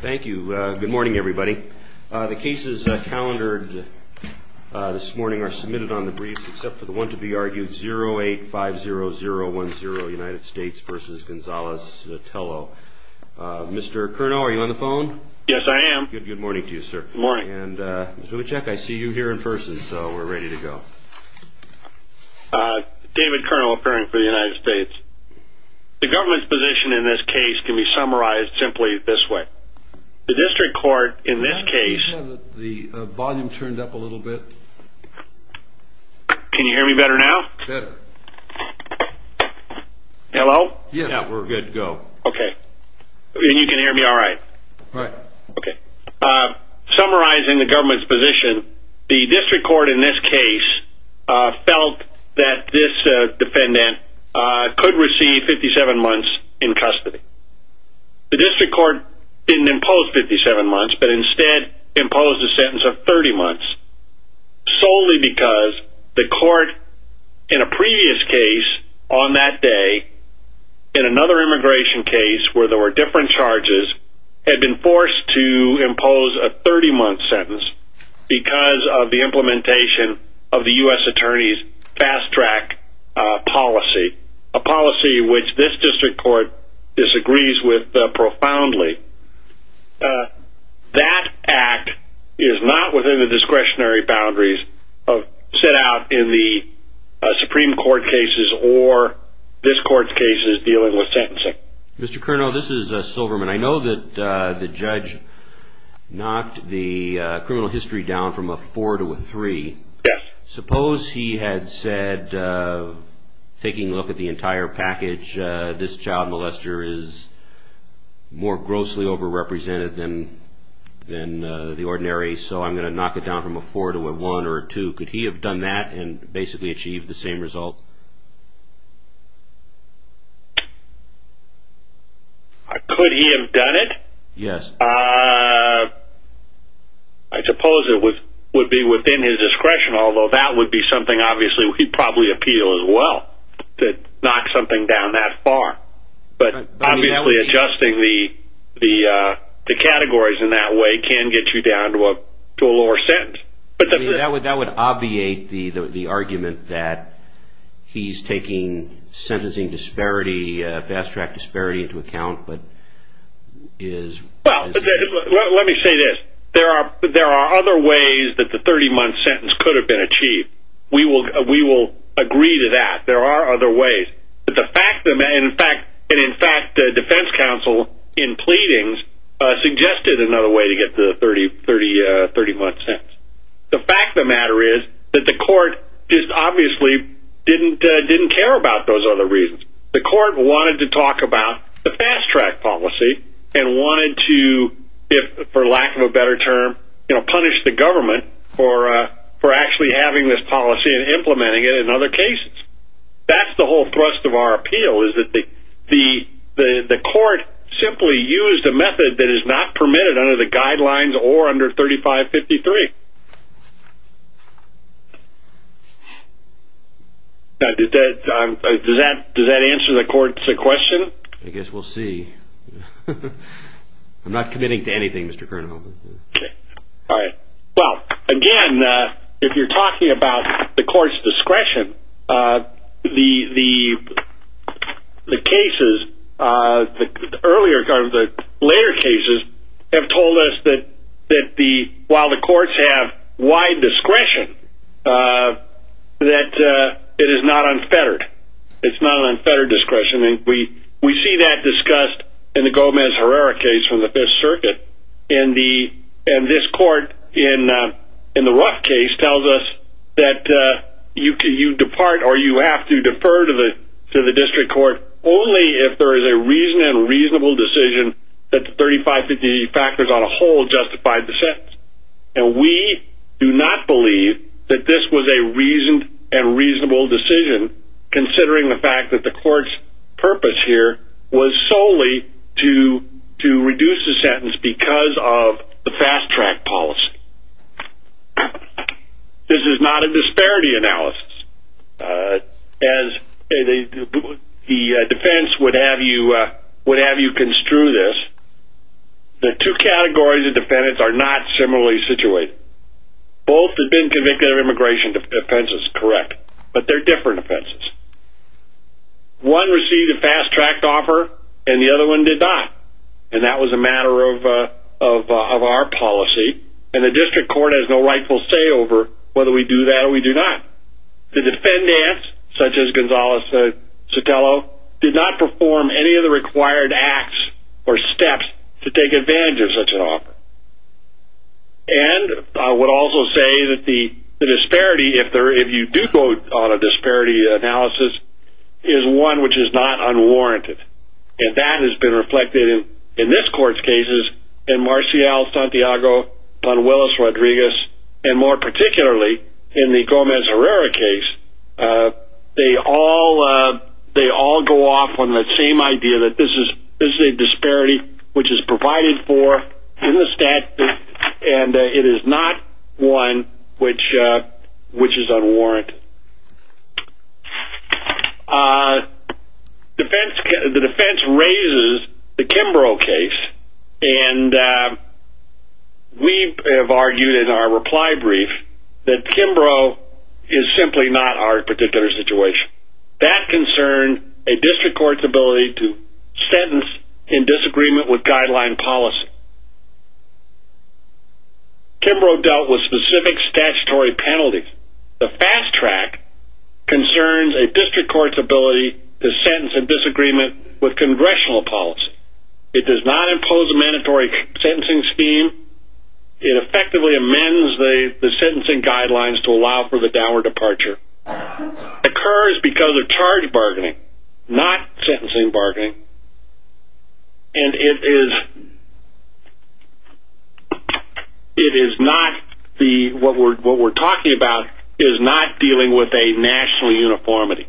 Thank you. Good morning everybody. The cases calendared this morning are submitted on the brief except for the one to be argued, 0850010 United States v. Gonzalez-Zotelo. Mr. Kernow, are you on the phone? Yes, I am. Good morning to you, sir. Good morning. And, Mr. Lubitschek, I see you here in person, so we're ready to go. David Kernow, appearing for the United States. The government's position in this case can be summarized simply this way. The district court in this case... The volume turned up a little bit. Can you hear me better now? Better. Hello? Yes, we're good to go. Okay. And you can hear me alright? Alright. Okay. Summarizing the government's position, the district court in this case felt that this defendant could receive 57 months in custody. The district court didn't impose 57 months, but instead imposed a sentence of 30 months solely because the court in a previous case on that day, in another immigration case where there were different charges, had been forced to impose a 30-month sentence because of the implementation of the U.S. attorney's fast-track policy, a policy which this district court disagrees with profoundly. That act is not within the discretionary boundaries set out in the Supreme Court cases or this court's cases dealing with sentencing. Mr. Kernow, this is Silverman. I know that the judge knocked the criminal history down from a 4 to a 3. Yes. Suppose he had said, taking a look at the entire package, this child molester is more grossly overrepresented than the ordinary, so I'm going to knock it down from a 4 to a 1 or a 2. Could he have done that and basically achieved the same result? Could he have done it? Yes. I suppose it would be within his discretion, although that would be something obviously he'd probably appeal as well, to knock something down that far. But obviously adjusting the categories in that way can get you down to a lower sentence. That would obviate the argument that he's taking sentencing disparity, fast-track disparity, into account. Let me say this. There are other ways that the 30-month sentence could have been achieved. We will agree to that. There are other ways. In fact, the defense counsel in pleadings suggested another way to get to the 30-month sentence. The fact of the matter is that the court just obviously didn't care about those other reasons. The court wanted to talk about the fast-track policy and wanted to, for lack of a better term, punish the government for actually having this policy and implementing it in other cases. That's the whole thrust of our appeal is that the court simply used a method that is not permitted under the guidelines or under 3553. Does that answer the court's question? I guess we'll see. I'm not committing to anything, Mr. Kernhofer. Okay. All right. Well, again, if you're talking about the court's discretion, the cases, the later cases, have told us that while the courts have wide discretion, that it is not unfettered. It's not an unfettered discretion. And we see that discussed in the Gomez-Herrera case from the Fifth Circuit. And this court, in the Ruff case, tells us that you depart or you have to defer to the district court only if there is a reason and reasonable decision that the 3553 factors on a whole justified the sentence. And we do not believe that this was a reasoned and reasonable decision, considering the fact that the court's purpose here was solely to reduce the sentence because of the fast-track policy. This is not a disparity analysis. As the defense would have you construe this, the two categories of defendants are not similarly situated. Both have been convicted of immigration offenses, correct. But they're different offenses. One received a fast-tracked offer and the other one did not. And that was a matter of our policy. And the district court has no rightful say over whether we do that or we do not. The defendants, such as Gonzalez-Sotelo, did not perform any of the required acts or steps to take advantage of such an offer. And I would also say that the disparity, if you do go on a disparity analysis, is one which is not unwarranted. And that has been reflected in this court's cases, in Marcial-Santiago-Panuelos-Rodriguez, and more particularly in the Gomez-Herrera case. They all go off on the same idea that this is a disparity which is provided for in the statute, and it is not one which is unwarranted. The defense raises the Kimbrough case. And we have argued in our reply brief that Kimbrough is simply not our particular situation. That concerned a district court's ability to sentence in disagreement with guideline policy. Kimbrough dealt with specific statutory penalties. The fast track concerns a district court's ability to sentence in disagreement with congressional policy. It does not impose a mandatory sentencing scheme. It effectively amends the sentencing guidelines to allow for the downward departure. It occurs because of charge bargaining, not sentencing bargaining. And it is not the, what we're talking about is not dealing with a national uniformity.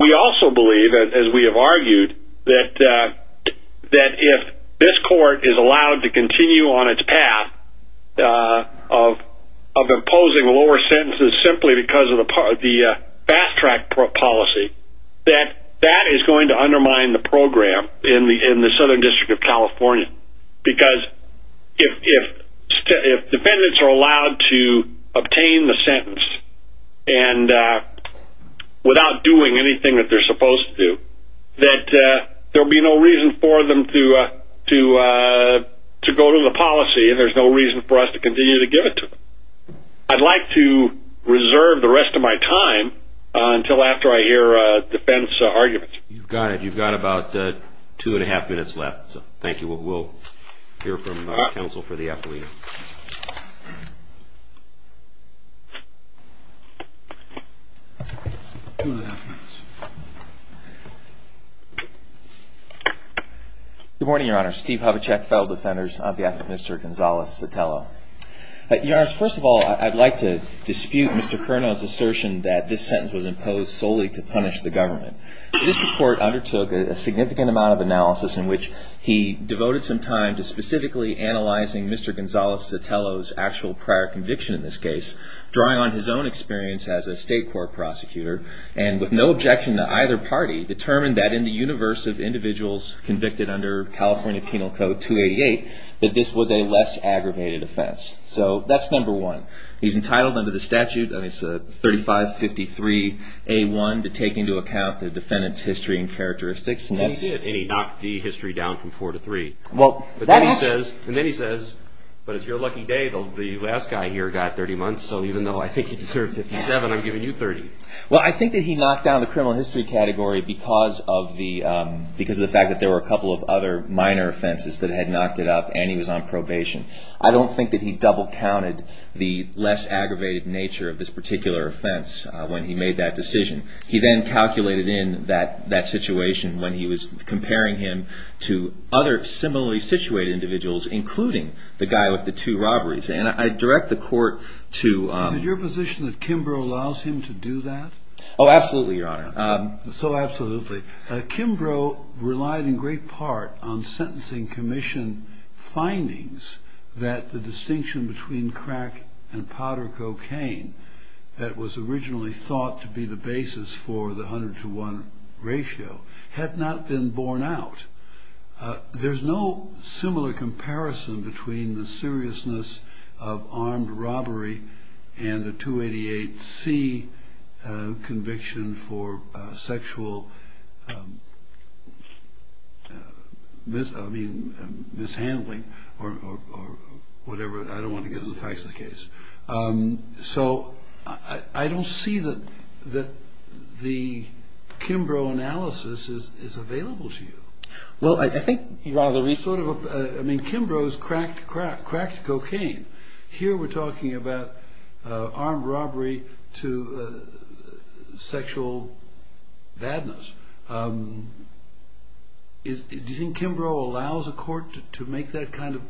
We also believe, as we have argued, that if this court is allowed to continue on its path of imposing lower sentences simply because of the fast track policy, that that is going to undermine the program in the Southern District of California. Because if defendants are allowed to obtain the sentence without doing anything that they're supposed to do, that there will be no reason for them to go to the policy, and there's no reason for us to continue to give it to them. I'd like to reserve the rest of my time until after I hear defense arguments. You've got it. You've got about two and a half minutes left, so thank you. We'll hear from counsel for the affidavit. Good morning, Your Honor. Steve Hovechek, federal defenders. On behalf of Mr. Gonzalez-Sotelo. Your Honor, first of all, I'd like to dispute Mr. Cerno's assertion that this sentence was imposed solely to punish the government. This report undertook a significant amount of analysis in which he devoted some time to specifically analyzing Mr. Gonzalez-Sotelo's actual prior conviction in this case, drawing on his own experience as a state court prosecutor, and with no objection to either party, determined that in the universe of individuals convicted under California Penal Code 288, that this was a less aggravated offense. So that's number one. He's entitled under the statute, 3553A1, to take into account the defendant's history and characteristics. And he did, and he knocked the history down from four to three. And then he says, but it's your lucky day, the last guy here got 30 months, so even though I think you deserve 57, I'm giving you 30. Well, I think that he knocked down the criminal history category because of the fact that there were a couple of other minor offenses that had knocked it up, and he was on probation. I don't think that he double-counted the less aggravated nature of this particular offense when he made that decision. He then calculated in that situation when he was comparing him to other similarly situated individuals, including the guy with the two robberies. And I direct the court to- Is it your position that Kimbrough allows him to do that? Oh, absolutely, Your Honor. So absolutely. Kimbrough relied in great part on sentencing commission findings that the distinction between crack and powder cocaine that was originally thought to be the basis for the 100 to 1 ratio had not been borne out. There's no similar comparison between the seriousness of armed robbery and a 288C conviction for sexual mishandling, or whatever, I don't want to get into the facts of the case. So I don't see that the Kimbrough analysis is available to you. Well, I think, Your Honor, the reason- I mean, Kimbrough's cracked cocaine. Here we're talking about armed robbery to sexual badness. Do you think Kimbrough allows a court to make that kind of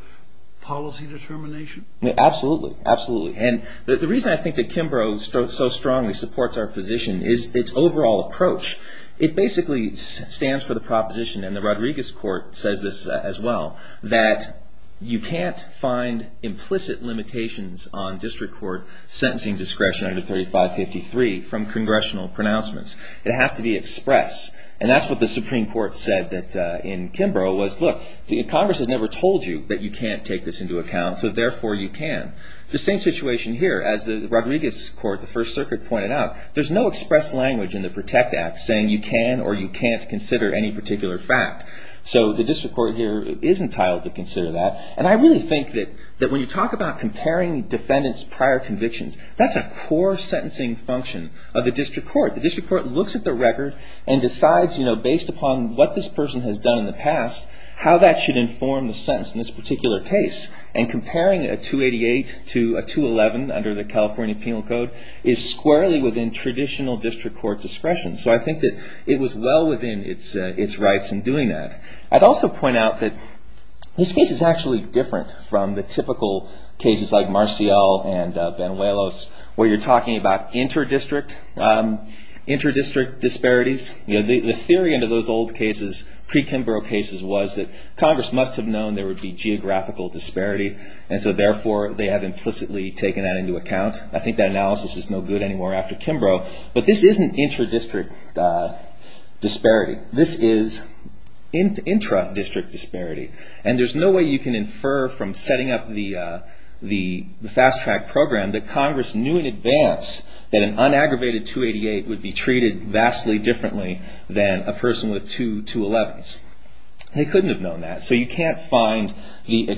policy determination? Absolutely. Absolutely. And the reason I think that Kimbrough so strongly supports our position is its overall approach. It basically stands for the proposition, and the Rodriguez court says this as well, that you can't find implicit limitations on district court sentencing discretion under 3553 from congressional pronouncements. It has to be expressed. And that's what the Supreme Court said in Kimbrough was, look, Congress has never told you that you can't take this into account, so therefore you can. The same situation here, as the Rodriguez court, the First Circuit pointed out, there's no expressed language in the PROTECT Act saying you can or you can't consider any particular fact. So the district court here is entitled to consider that. And I really think that when you talk about comparing defendants' prior convictions, that's a core sentencing function of the district court. The district court looks at the record and decides, you know, based upon what this person has done in the past, how that should inform the sentence in this particular case. And comparing a 288 to a 211 under the California Penal Code is squarely within traditional district court discretion. So I think that it was well within its rights in doing that. I'd also point out that this case is actually different from the typical cases like Marcial and Benuelos, where you're talking about inter-district disparities. The theory under those old cases, pre-Kimbrough cases, was that Congress must have known there would be geographical disparity, and so therefore they have implicitly taken that into account. I think that analysis is no good anymore after Kimbrough. But this isn't inter-district disparity. This is intra-district disparity. And there's no way you can infer from setting up the fast-track program that Congress knew in advance that an unaggravated 288 would be treated vastly differently than a person with two 211s. They couldn't have known that. So you can't find the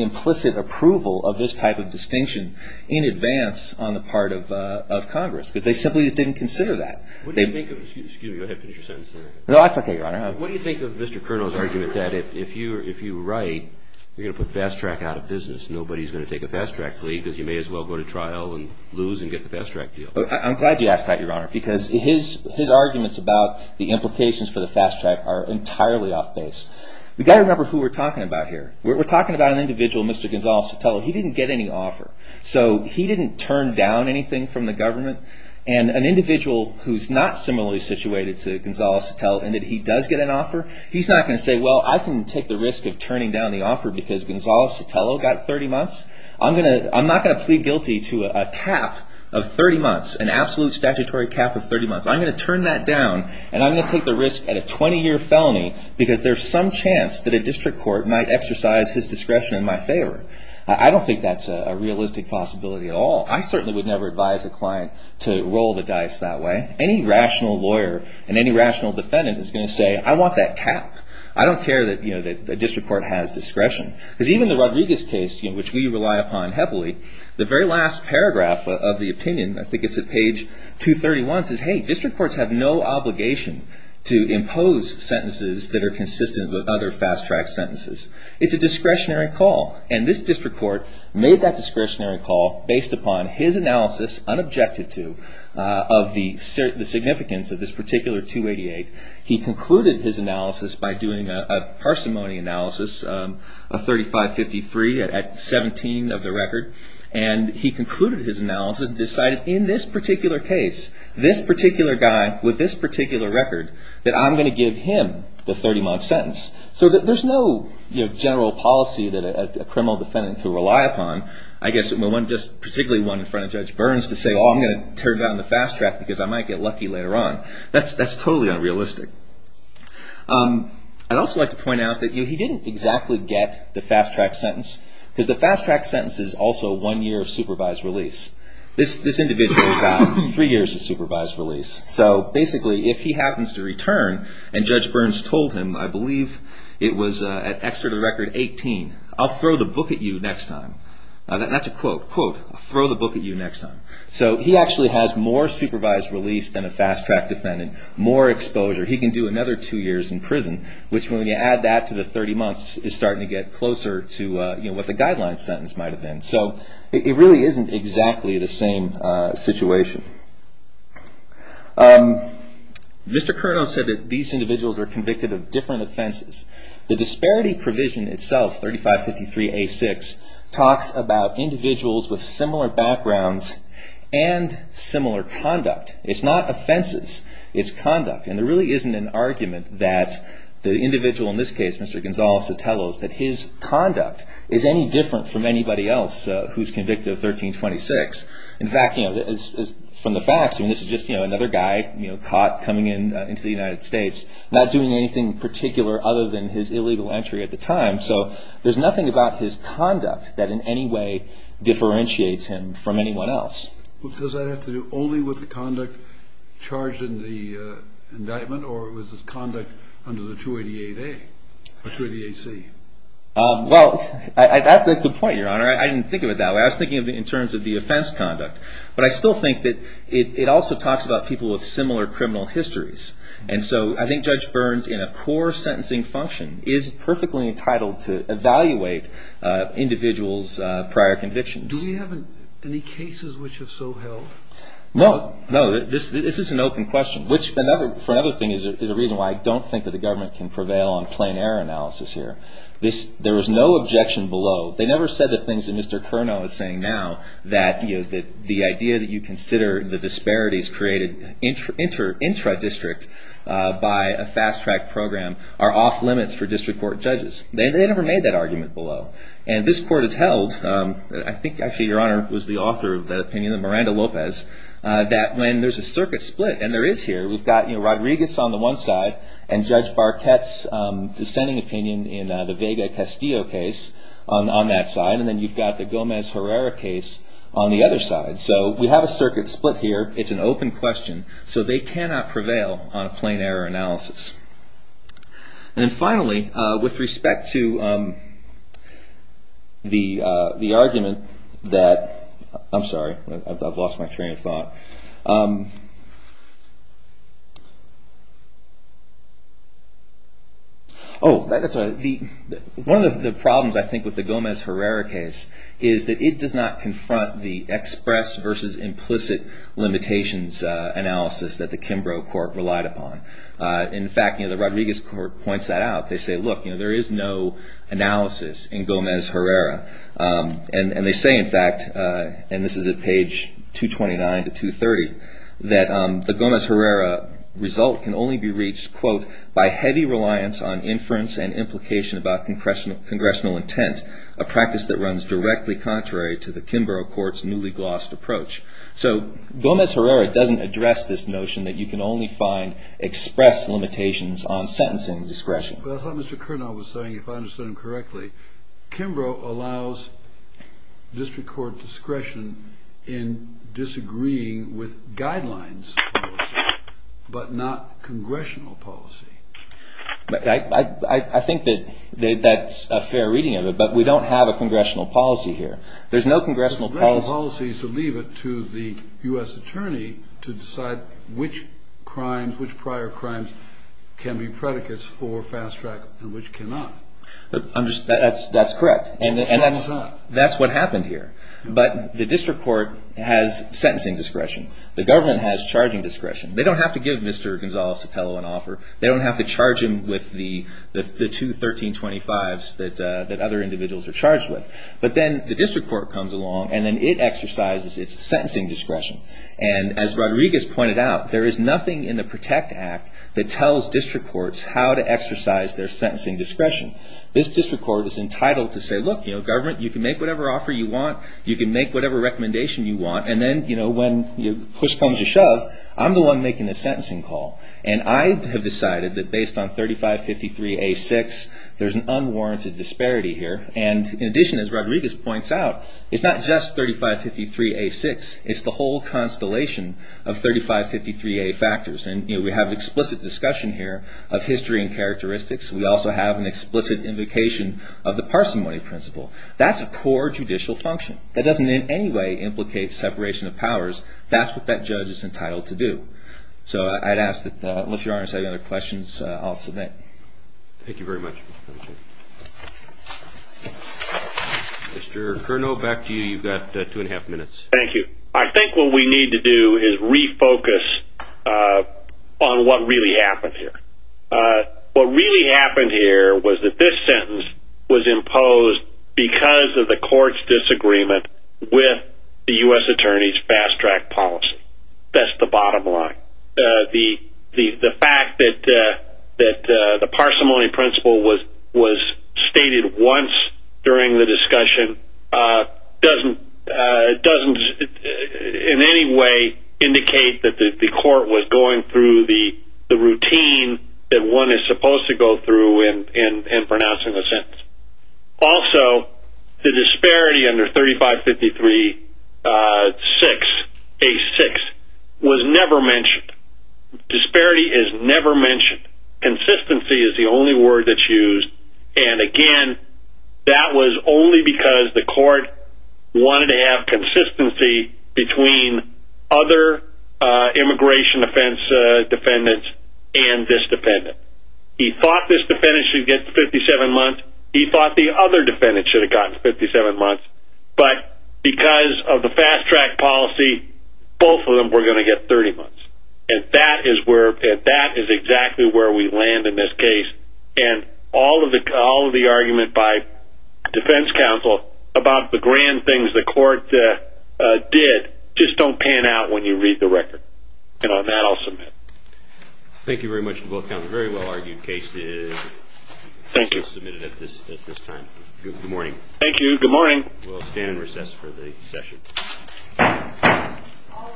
implicit approval of this type of distinction in advance on the part of Congress, because they simply just didn't consider that. Excuse me. Go ahead and finish your sentence. No, that's okay, Your Honor. What do you think of Mr. Kernow's argument that if you write, you're going to put fast-track out of business, nobody's going to take a fast-track plea because you may as well go to trial and lose and get the fast-track deal? I'm glad you asked that, Your Honor, because his arguments about the implications for the fast-track are entirely off-base. We've got to remember who we're talking about here. We're talking about an individual, Mr. Gonzales-Sotelo. He didn't get any offer. So he didn't turn down anything from the government. And an individual who's not similarly situated to Gonzales-Sotelo in that he does get an offer, he's not going to say, well, I can take the risk of turning down the offer because Gonzales-Sotelo got 30 months. I'm not going to plead guilty to a cap of 30 months, an absolute statutory cap of 30 months. I'm going to turn that down, and I'm going to take the risk at a 20-year felony because there's some chance that a district court might exercise his discretion in my favor. I don't think that's a realistic possibility at all. I certainly would never advise a client to roll the dice that way. Any rational lawyer and any rational defendant is going to say, I want that cap. I don't care that a district court has discretion. Because even the Rodriguez case, which we rely upon heavily, the very last paragraph of the opinion, I think it's at page 231, says, hey, district courts have no obligation to impose sentences that are consistent with other fast-track sentences. It's a discretionary call. And this district court made that discretionary call based upon his analysis, unobjected to, of the significance of this particular 288. He concluded his analysis by doing a parsimony analysis, a 3553 at 17 of the record. And he concluded his analysis and decided in this particular case, this particular guy with this particular record, that I'm going to give him the 30-month sentence so that there's no general policy that a criminal defendant can rely upon. I guess particularly one in front of Judge Burns to say, oh, I'm going to tear down the fast track because I might get lucky later on. That's totally unrealistic. I'd also like to point out that he didn't exactly get the fast-track sentence because the fast-track sentence is also one year of supervised release. This individual got three years of supervised release. So basically, if he happens to return and Judge Burns told him, I believe it was at Exeter the record 18, I'll throw the book at you next time. That's a quote. Quote, I'll throw the book at you next time. So he actually has more supervised release than a fast-track defendant, more exposure. He can do another two years in prison, which when you add that to the 30 months, is starting to get closer to what the guideline sentence might have been. So it really isn't exactly the same situation. Mr. Curnow said that these individuals are convicted of different offenses. The disparity provision itself, 3553A6, talks about individuals with similar backgrounds and similar conduct. It's not offenses, it's conduct, and there really isn't an argument that the individual in this case, Mr. Gonzales-Sotelo, is that his conduct is any different from anybody else who's convicted of 1326. In fact, from the facts, this is just another guy caught coming into the United States, not doing anything particular other than his illegal entry at the time. So there's nothing about his conduct that in any way differentiates him from anyone else. Does that have to do only with the conduct charged in the indictment, or was this conduct under the 288A or 288C? Well, that's a good point, Your Honor. I didn't think of it that way. I was thinking in terms of the offense conduct. But I still think that it also talks about people with similar criminal histories. And so I think Judge Burns, in a poor sentencing function, is perfectly entitled to evaluate individuals' prior convictions. Do we have any cases which have so held? No. No, this is an open question. Which, for another thing, is a reason why I don't think that the government can prevail on plain error analysis here. There was no objection below. They never said the things that Mr. Curnow is saying now, that the idea that you consider the disparities created intra-district by a fast-track program are off-limits for district court judges. They never made that argument below. And this Court has held, I think actually Your Honor was the author of that opinion, Miranda Lopez, that when there's a circuit split, and there is here, we've got Rodriguez on the one side and Judge Barquette's dissenting opinion in the Vega-Castillo case on that side. And then you've got the Gomez-Herrera case on the other side. So we have a circuit split here. It's an open question. So they cannot prevail on a plain error analysis. And finally, with respect to the argument that I'm sorry, I've lost my train of thought. Oh, that's all right. One of the problems, I think, with the Gomez-Herrera case is that it does not confront the express versus implicit limitations analysis that the Kimbrough Court relied upon. In fact, the Rodriguez Court points that out. They say, look, there is no analysis in Gomez-Herrera. And they say, in fact, and this is at page 229 to 230, that the Gomez-Herrera result can only be reached, quote, by heavy reliance on inference and implication about congressional intent, a practice that runs directly contrary to the Kimbrough Court's newly glossed approach. So Gomez-Herrera doesn't address this notion that you can only find expressed limitations on sentencing discretion. But I thought Mr. Kernow was saying, if I understood him correctly, Kimbrough allows district court discretion in disagreeing with guidelines, but not congressional policy. I think that that's a fair reading of it. But we don't have a congressional policy here. There's no congressional policy. So leave it to the U.S. attorney to decide which crimes, which prior crimes can be predicates for fast track and which cannot. That's correct. And that's what happened here. But the district court has sentencing discretion. The government has charging discretion. They don't have to give Mr. Gonzales-Sotelo an offer. They don't have to charge him with the two 1325s that other individuals are charged with. But then the district court comes along, and then it exercises its sentencing discretion. And as Rodriguez pointed out, there is nothing in the PROTECT Act that tells district courts how to exercise their sentencing discretion. This district court is entitled to say, look, you know, government, you can make whatever offer you want. You can make whatever recommendation you want. And then, you know, when push comes to shove, I'm the one making the sentencing call. And I have decided that based on 3553A6, there's an unwarranted disparity here. And in addition, as Rodriguez points out, it's not just 3553A6. It's the whole constellation of 3553A factors. And, you know, we have explicit discussion here of history and characteristics. We also have an explicit invocation of the parsimony principle. That's a core judicial function. That doesn't in any way implicate separation of powers. That's what that judge is entitled to do. So I'd ask that unless Your Honor has any other questions, I'll submit. Thank you very much. Mr. Curnow, back to you. You've got two and a half minutes. Thank you. I think what we need to do is refocus on what really happened here. What really happened here was that this sentence was imposed because of the court's disagreement with the U.S. Attorney's fast-track policy. That's the bottom line. The fact that the parsimony principle was stated once during the discussion doesn't in any way indicate that the court was going through the routine that one is supposed to go through in pronouncing a sentence. Also, the disparity under 3553-6, A-6, was never mentioned. Disparity is never mentioned. Consistency is the only word that's used. And again, that was only because the court wanted to have consistency between other immigration defense defendants and this defendant. He thought this defendant should get 57 months. He thought the other defendant should have gotten 57 months. But because of the fast-track policy, both of them were going to get 30 months. And that is exactly where we land in this case. And all of the argument by defense counsel about the grand things the court did just don't pan out when you read the record. And on that, I'll submit. Thank you very much to both counsels. Very well-argued case is submitted at this time. Good morning. Thank you. Good morning. We'll stand and recess for the session. All rise for session recess.